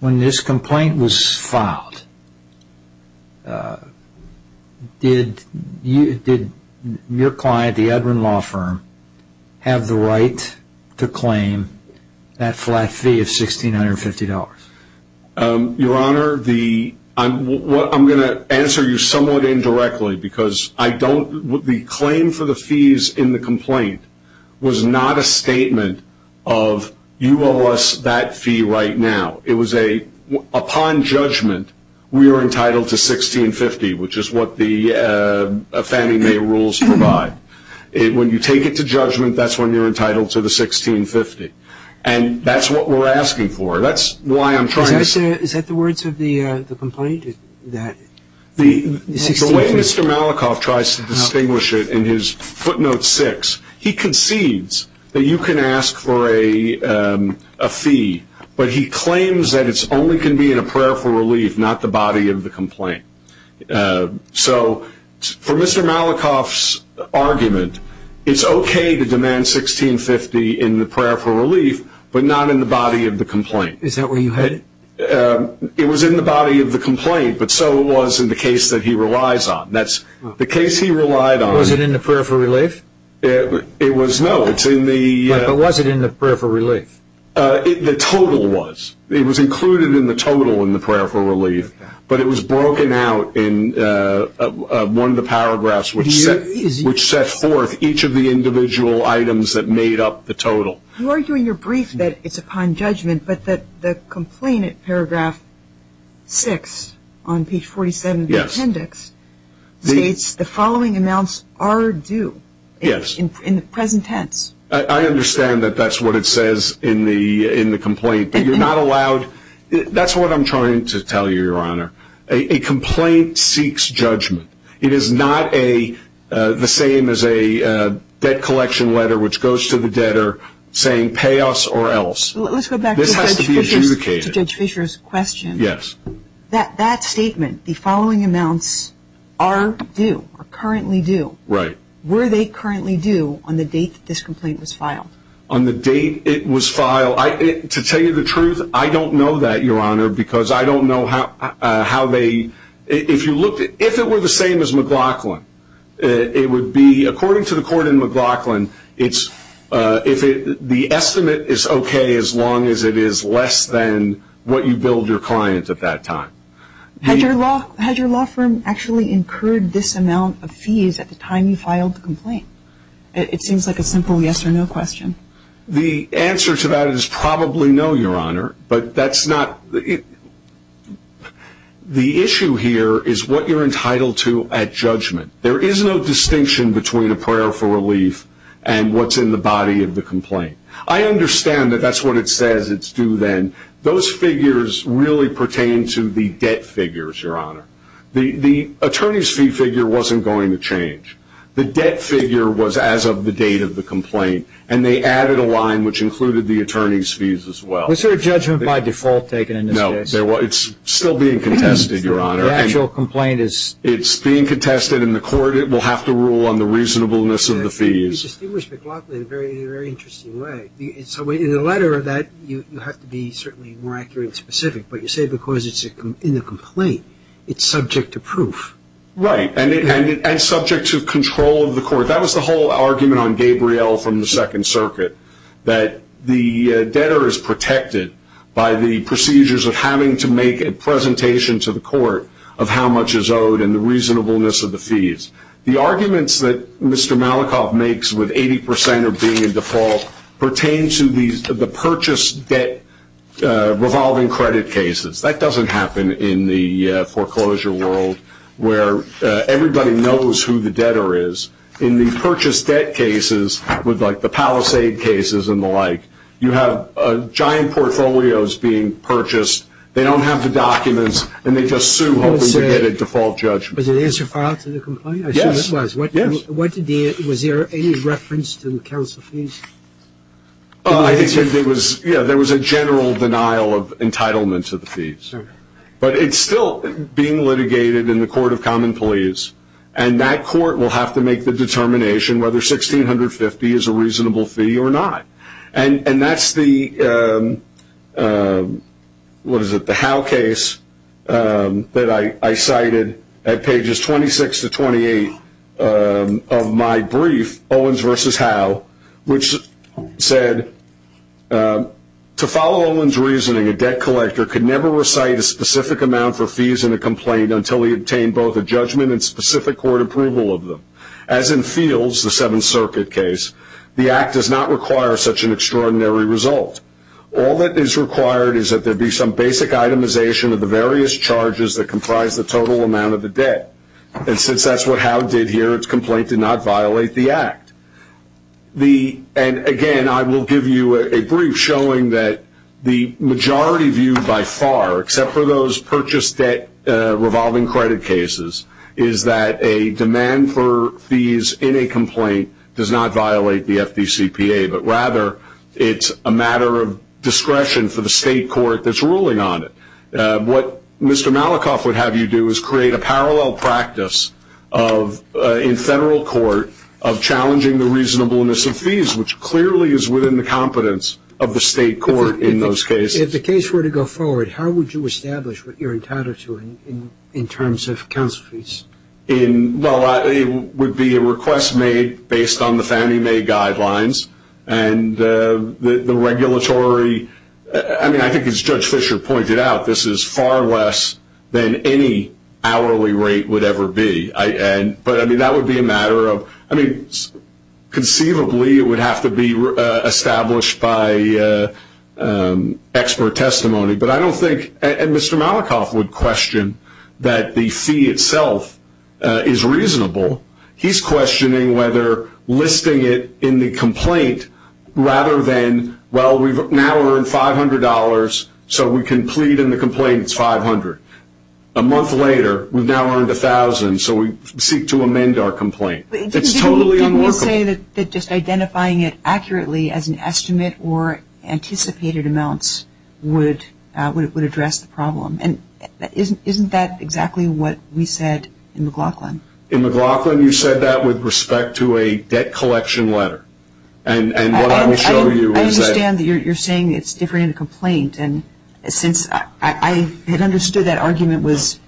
when this complaint was filed, did your client, the Edwin Law Firm, have the right to claim that flat fee of $1650? Your Honor, I'm going to answer you somewhat indirectly because the claim for the fees in the complaint was not a statement of you owe us that fee right now. Upon judgment, we are entitled to $1650, which is what the Fannie Mae rules provide. When you take it to judgment, that's when you're entitled to the $1650. And that's what we're asking for. That's why I'm trying to say — Is that the words of the complaint? The way Mr. Malikoff tries to distinguish it in his footnote six, he concedes that you can ask for a fee, but he claims that it only can be in a prayer for relief, not the body of the complaint. So for Mr. Malikoff's argument, it's okay to demand $1650 in the prayer for relief, but not in the body of the complaint. Is that where you had it? It was in the body of the complaint, but so was in the case that he relies on. That's the case he relied on. Was it in the prayer for relief? It was, no. But was it in the prayer for relief? The total was. It was included in the total in the prayer for relief, but it was broken out in one of the paragraphs which set forth each of the individual items that made up the total. You argue in your brief that it's upon judgment, but the complaint at paragraph six on page 47 of the appendix states, the following amounts are due in the present tense. I understand that that's what it says in the complaint, but you're not allowed. That's what I'm trying to tell you, Your Honor. A complaint seeks judgment. It is not the same as a debt collection letter which goes to the debtor saying pay us or else. Let's go back to Judge Fischer's question. Yes. That statement, the following amounts are due, are currently due. Right. Were they currently due on the date that this complaint was filed? On the date it was filed, to tell you the truth, I don't know that, Your Honor, because I don't know how they, if you looked at, if it were the same as McLaughlin, it would be, according to the court in McLaughlin, the estimate is okay as long as it is less than what you billed your client at that time. Had your law firm actually incurred this amount of fees at the time you filed the complaint? It seems like a simple yes or no question. The answer to that is probably no, Your Honor, but that's not, the issue here is what you're entitled to at judgment. There is no distinction between a prayer for relief and what's in the body of the complaint. I understand that that's what it says it's due then. Those figures really pertain to the debt figures, Your Honor. The attorney's fee figure wasn't going to change. The debt figure was as of the date of the complaint, and they added a line which included the attorney's fees as well. Was there a judgment by default taken in this case? No. It's still being contested, Your Honor. The actual complaint is? It's being contested in the court. It will have to rule on the reasonableness of the fees. You distinguish McLaughlin in a very interesting way. In the letter of that, you have to be certainly more accurate and specific, but you say because it's in the complaint, it's subject to proof. Right, and subject to control of the court. That was the whole argument on Gabriel from the Second Circuit, that the debtor is protected by the procedures of having to make a presentation to the court of how much is owed and the reasonableness of the fees. The arguments that Mr. Malikoff makes with 80% of being in default pertain to the purchase debt revolving credit cases. That doesn't happen in the foreclosure world where everybody knows who the debtor is. In the purchase debt cases, like the Palisade cases and the like, you have giant portfolios being purchased. They don't have the documents, and they just sue hoping to get a default judgment. Was it answer filed to the complaint? Yes. I assume it was. Yes. Was there any reference to the counsel fees? I think there was a general denial of entitlement to the fees. But it's still being litigated in the Court of Common Pleas, and that court will have to make the determination whether $1,650 is a reasonable fee or not. That's the Howe case that I cited at pages 26 to 28 of my brief, Owens v. Howe, which said, To follow Owens' reasoning, a debt collector could never recite a specific amount for fees in a complaint until he obtained both a judgment and specific court approval of them. As in Fields, the Seventh Circuit case, the Act does not require such an extraordinary result. All that is required is that there be some basic itemization of the various charges that comprise the total amount of the debt. And since that's what Howe did here, its complaint did not violate the Act. And again, I will give you a brief showing that the majority view by far, except for those purchase debt revolving credit cases, is that a demand for fees in a complaint does not violate the FDCPA, but rather it's a matter of discretion for the state court that's ruling on it. What Mr. Malikoff would have you do is create a parallel practice in federal court of challenging the reasonableness of fees, which clearly is within the competence of the state court in those cases. If the case were to go forward, how would you establish what you're entitled to in terms of counsel fees? Well, it would be a request made based on the Fannie Mae guidelines. And the regulatory, I mean, I think as Judge Fisher pointed out, this is far less than any hourly rate would ever be. But, I mean, that would be a matter of, I mean, conceivably it would have to be established by expert testimony. But I don't think, and Mr. Malikoff would question that the fee itself is reasonable. He's questioning whether listing it in the complaint rather than, well, we've now earned $500, so we can plead in the complaint it's $500. A month later, we've now earned $1,000, so we seek to amend our complaint. It's totally unworkable. Didn't you say that just identifying it accurately as an estimate or anticipated amounts would address the problem? And isn't that exactly what we said in McLaughlin? In McLaughlin, you said that with respect to a debt collection letter. And what I will show you is that. I understand that you're saying it's different in a complaint. And since I had understood that argument was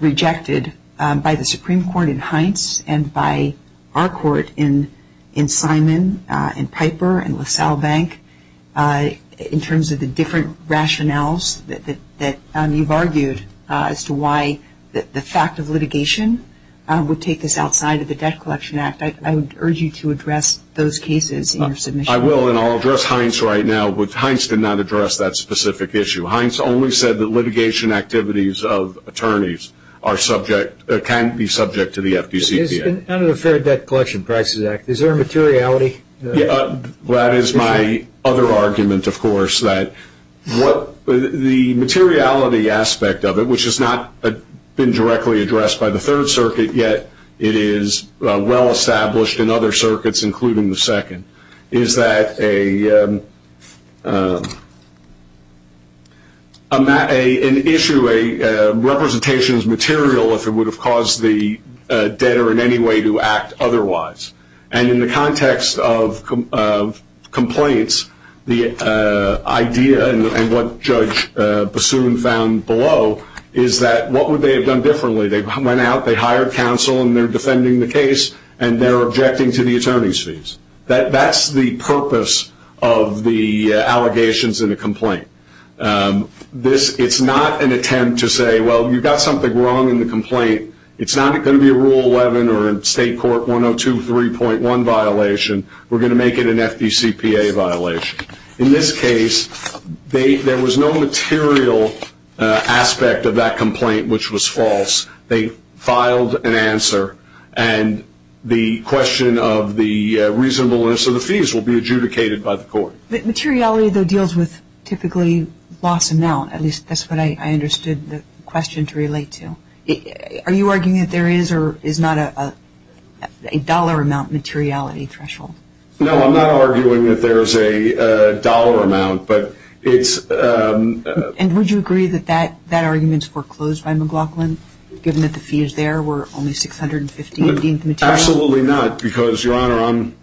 rejected by the Supreme Court in Heintz and by our court in Simon and Piper and LaSalle Bank, in terms of the different rationales that you've argued as to why the fact of litigation would take this outside of the Debt Collection Act, I would urge you to address those cases in your submission. I will, and I'll address Heintz right now. Heintz did not address that specific issue. Heintz only said that litigation activities of attorneys can be subject to the FDCPA. Under the Fair Debt Collection Prices Act, is there a materiality? That is my other argument, of course, that the materiality aspect of it, which has not been directly addressed by the Third Circuit, yet it is well established in other circuits, including the Second, is that an issue, a representation is material if it would have caused the debtor in any way to act otherwise. And in the context of complaints, the idea and what Judge Bassoon found below is that what would they have done differently? They went out, they hired counsel, and they're defending the case, and they're objecting to the attorney's fees. That's the purpose of the allegations in a complaint. It's not an attempt to say, well, you've got something wrong in the complaint. It's not going to be a Rule 11 or a State Court 102.3.1 violation. We're going to make it an FDCPA violation. In this case, there was no material aspect of that complaint which was false. They filed an answer, and the question of the reasonableness of the fees will be adjudicated by the court. Materiality, though, deals with typically loss amount. At least that's what I understood the question to relate to. Are you arguing that there is or is not a dollar amount materiality threshold? No, I'm not arguing that there is a dollar amount, but it's ‑‑ And would you agree that that argument is foreclosed by McLaughlin, given that the fees there were only $615 material? Absolutely not, because, Your Honor, I'm,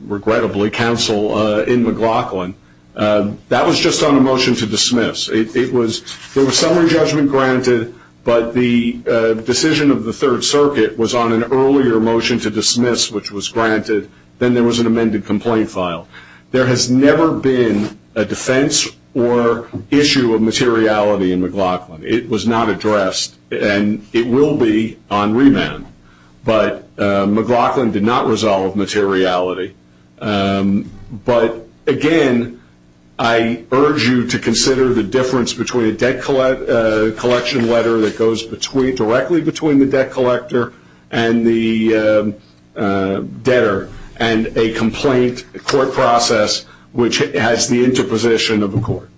regrettably, counsel in McLaughlin. That was just on a motion to dismiss. There was summary judgment granted, but the decision of the Third Circuit was on an earlier motion to dismiss, which was granted. Then there was an amended complaint file. There has never been a defense or issue of materiality in McLaughlin. It was not addressed, and it will be on remand. But McLaughlin did not resolve materiality. But, again, I urge you to consider the difference between a debt collection letter that goes directly between the debt collector and the debtor and a complaint court process which has the interposition of the court.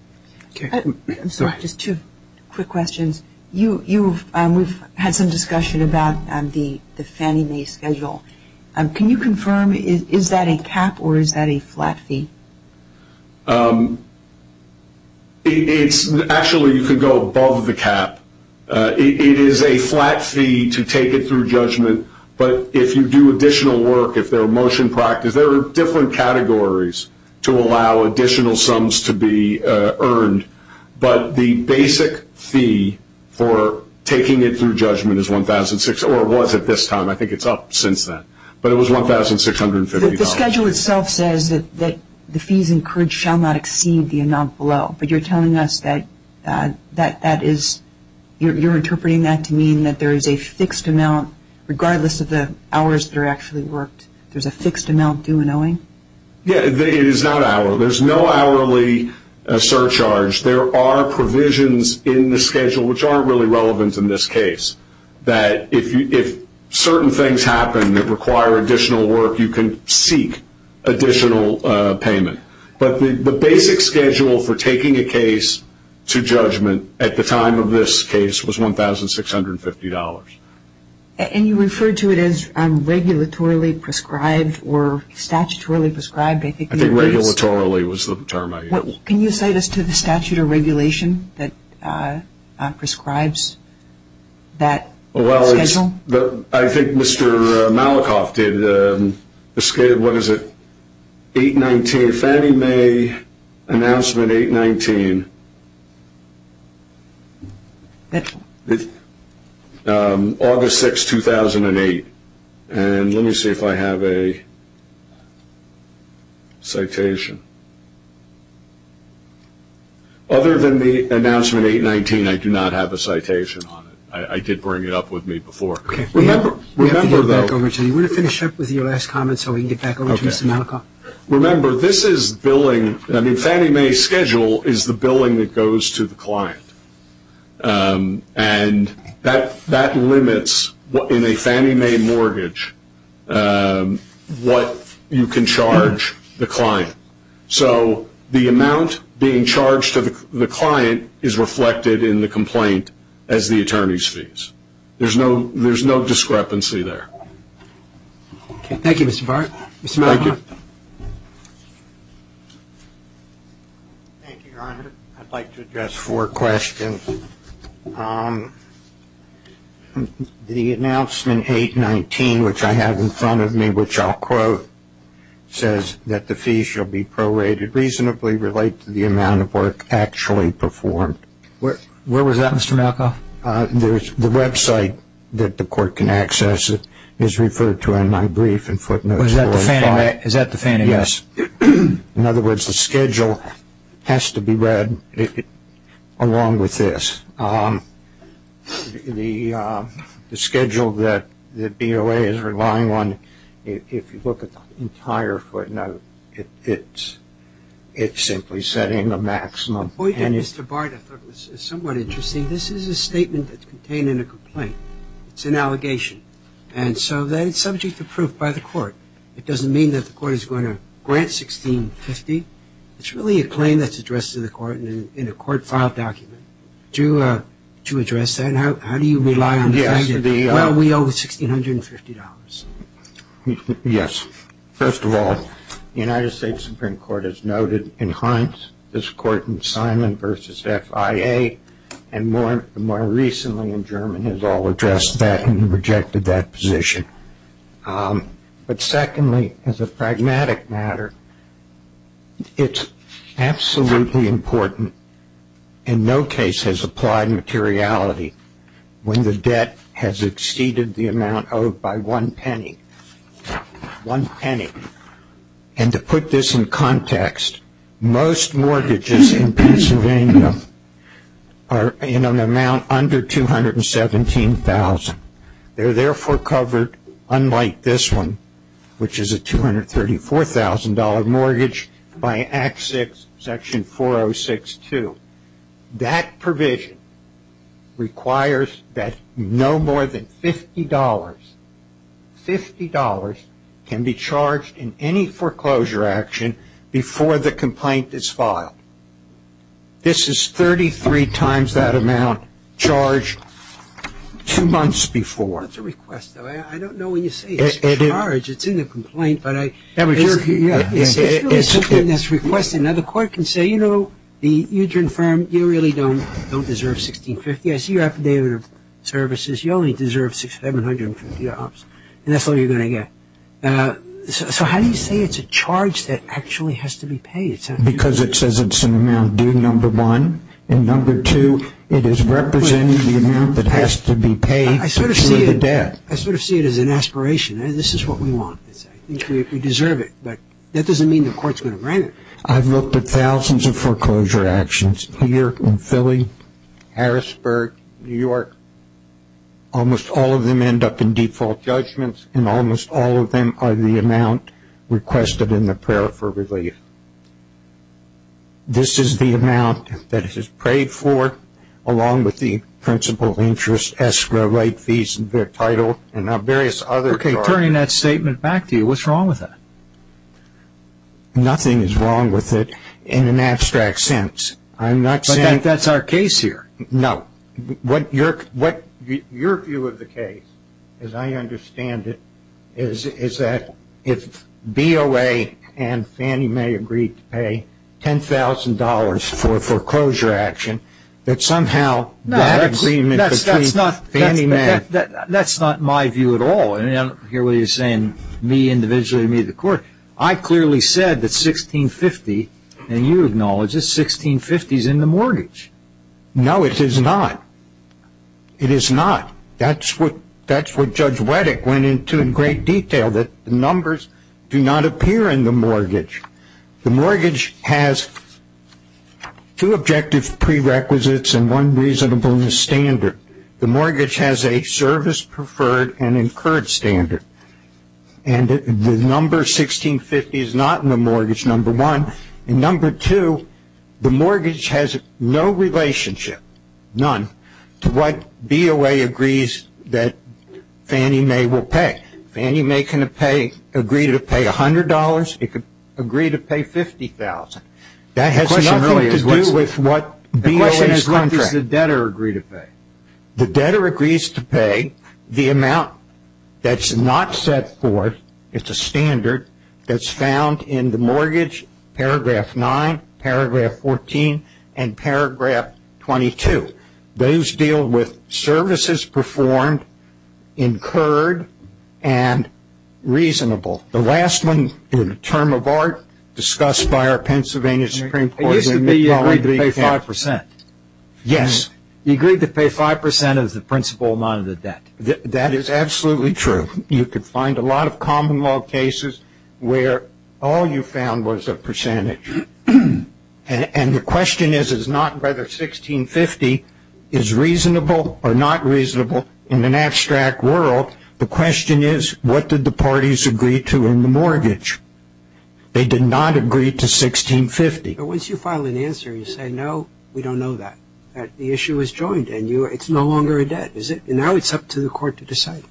I'm sorry, just two quick questions. We've had some discussion about the Fannie Mae schedule. Can you confirm, is that a cap or is that a flat fee? Actually, you could go above the cap. It is a flat fee to take it through judgment. But if you do additional work, if there are motion practice, there are different categories to allow additional sums to be earned. But the basic fee for taking it through judgment is $1,600, or it was at this time. I think it's up since then. But it was $1,650. The schedule itself says that the fees encouraged shall not exceed the amount below. But you're telling us that that is, you're interpreting that to mean that there is a fixed amount, regardless of the hours that are actually worked, there's a fixed amount due and owing? Yeah, it is not hourly. So there's no hourly surcharge. There are provisions in the schedule which aren't really relevant in this case, that if certain things happen that require additional work, you can seek additional payment. But the basic schedule for taking a case to judgment at the time of this case was $1,650. And you refer to it as regulatorily prescribed or statutorily prescribed? I think regulatorily was the term I used. Can you cite us to the statute of regulation that prescribes that schedule? Well, I think Mr. Malikoff did, what is it, 8-19, Fannie Mae announcement 8-19, August 6, 2008. And let me see if I have a citation. Other than the announcement 8-19, I do not have a citation on it. I did bring it up with me before. Okay. We have to get back over to you. You want to finish up with your last comment so we can get back over to Mr. Malikoff? Remember, this is billing. I mean, Fannie Mae's schedule is the billing that goes to the client. And that limits in a Fannie Mae mortgage what you can charge the client. So the amount being charged to the client is reflected in the complaint as the attorney's fees. There's no discrepancy there. Okay. Thank you, Mr. Bart. Mr. Malikoff. Thank you. Thank you, Your Honor. I'd like to address four questions. The announcement 8-19, which I have in front of me, which I'll quote, says that the fees shall be prorated reasonably related to the amount of work actually performed. Where was that, Mr. Malikoff? The website that the court can access it is referred to in my brief in footnotes 4 and 5. Is that the Fannie Mae? Yes. In other words, the schedule has to be read along with this. The schedule that BOA is relying on, if you look at the entire footnote, it's simply setting the maximum. The point of Mr. Bart, I thought, was somewhat interesting. This is a statement that's contained in a complaint. It's an allegation. And so then it's subject to proof by the court. It doesn't mean that the court is going to grant $1,650. It's really a claim that's addressed to the court in a court-filed document. To address that, how do you rely on the fact that, well, we owe $1,650? Yes. First of all, the United States Supreme Court has noted in Hines this court in Simon v. FIA, and more recently in German has all addressed that and rejected that position. But secondly, as a pragmatic matter, it's absolutely important, and no case has applied materiality when the debt has exceeded the amount owed by one penny, one penny. And to put this in context, most mortgages in Pennsylvania are in an amount under $217,000. They're therefore covered, unlike this one, which is a $234,000 mortgage by Act VI, Section 4062. That provision requires that no more than $50, $50, can be charged in any foreclosure action before the complaint is filed. This is 33 times that amount charged two months before. That's a request, though. I don't know when you say it's a charge. It's in the complaint, but it's really something that's requested. Now, the court can say, you know, the Ugen firm, you really don't deserve $1,650. I see your affidavit of services. You only deserve $1,750, and that's all you're going to get. So how do you say it's a charge that actually has to be paid? Because it says it's an amount due, number one. And number two, it is representing the amount that has to be paid for the debt. I sort of see it as an aspiration. This is what we want. I think we deserve it, but that doesn't mean the court's going to grant it. I've looked at thousands of foreclosure actions here in Philly, Harrisburg, New York. Almost all of them end up in default judgments, and almost all of them are the amount requested in the prayer for relief. This is the amount that it is paid for, along with the principal interest, escrow rate, fees, their title, and now various other charges. Okay, turning that statement back to you, what's wrong with that? Nothing is wrong with it in an abstract sense. I'm not saying that's our case here. No. Your view of the case, as I understand it, is that if BOA and Fannie Mae agreed to pay $10,000 for a foreclosure action, that somehow that agreement between Fannie Mae. That's not my view at all. I don't hear what he's saying, me individually or me as a court. I clearly said that $1,650, and you acknowledge it, $1,650 is in the mortgage. No, it is not. It is not. That's what Judge Wettig went into in great detail, that the numbers do not appear in the mortgage. The mortgage has two objective prerequisites and one reasonable standard. The mortgage has a service preferred and incurred standard, and the number $1,650 is not in the mortgage, number one. And number two, the mortgage has no relationship, none, to what BOA agrees that Fannie Mae will pay. Fannie Mae can agree to pay $100. It could agree to pay $50,000. That has nothing to do with what BOA's contract. The question is, what does the debtor agree to pay? The debtor agrees to pay the amount that's not set forth. It's a standard that's found in the mortgage, Paragraph 9, Paragraph 14, and Paragraph 22. Those deal with services performed, incurred, and reasonable. The last one is a term of art discussed by our Pennsylvania Supreme Court. It used to be you agreed to pay 5%. Yes. You agreed to pay 5% as the principal amount of the debt. That is absolutely true. You could find a lot of common law cases where all you found was a percentage. And the question is, is not whether $1,650 is reasonable or not reasonable in an abstract world. The question is, what did the parties agree to in the mortgage? They did not agree to $1,650. But once you file an answer, you say, no, we don't know that, that the issue is joined, and it's no longer a debt. Now it's up to the court to decide.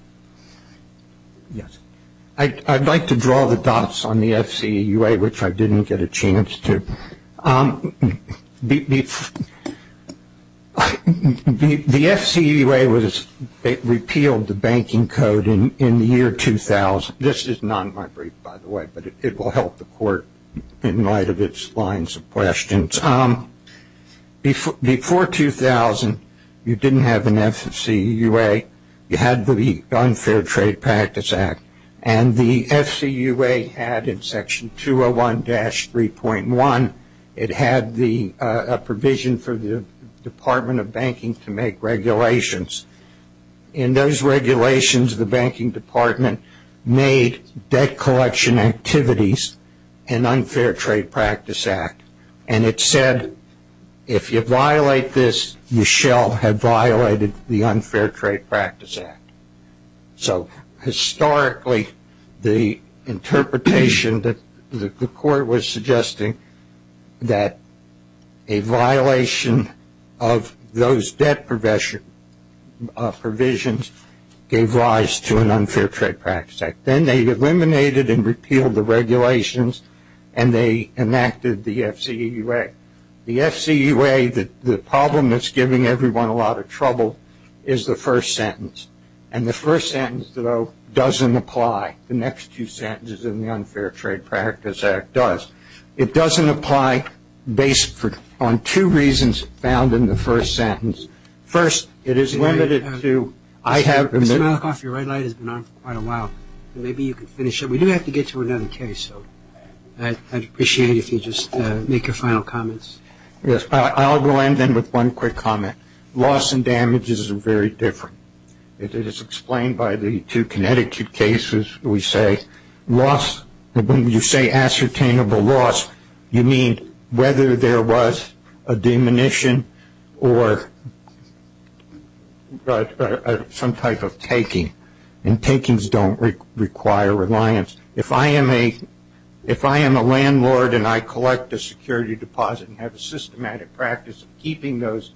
Yes. I'd like to draw the dots on the FCEUA, which I didn't get a chance to. The FCEUA repealed the banking code in the year 2000. This is not my brief, by the way, but it will help the court in light of its lines of questions. Before 2000, you didn't have an FCEUA. You had the Unfair Trade Practice Act. And the FCEUA had in Section 201-3.1, it had a provision for the Department of Banking to make regulations. In those regulations, the banking department made debt collection activities an Unfair Trade Practice Act. And it said, if you violate this, you shall have violated the Unfair Trade Practice Act. So historically, the interpretation that the court was suggesting that a violation of those debt provisions gave rise to an Unfair Trade Practice Act. Then they eliminated and repealed the regulations, and they enacted the FCEUA. The FCEUA, the problem that's giving everyone a lot of trouble, is the first sentence. And the first sentence, though, doesn't apply. The next two sentences in the Unfair Trade Practice Act does. It doesn't apply based on two reasons found in the first sentence. First, it is limited to – I have – Mr. Malikoff, your red light has been on for quite a while. Maybe you can finish up. We do have to get to another case, so I'd appreciate it if you just make your final comments. Yes. I'll go in then with one quick comment. Loss and damage is very different. It is explained by the two Connecticut cases. When you say ascertainable loss, you mean whether there was a diminution or some type of taking. And takings don't require reliance. If I am a landlord and I collect a security deposit and have a systematic practice of keeping those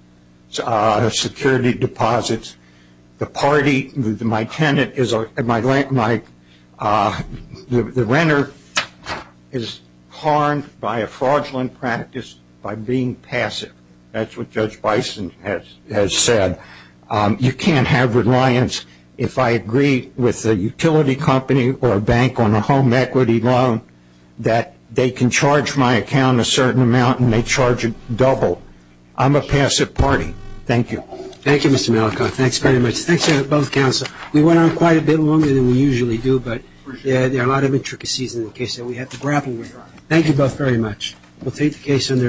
security deposits, the party, my tenant, my – the renter is harmed by a fraudulent practice by being passive. That's what Judge Bison has said. You can't have reliance. If I agree with a utility company or a bank on a home equity loan, that they can charge my account a certain amount and they charge it double. I'm a passive party. Thank you. Thank you, Mr. Malkoff. Thanks very much. Thanks to both counsel. We went on quite a bit longer than we usually do, but there are a lot of intricacies in the case that we have to grapple with. Thank you both very much. We'll take the case under advisement.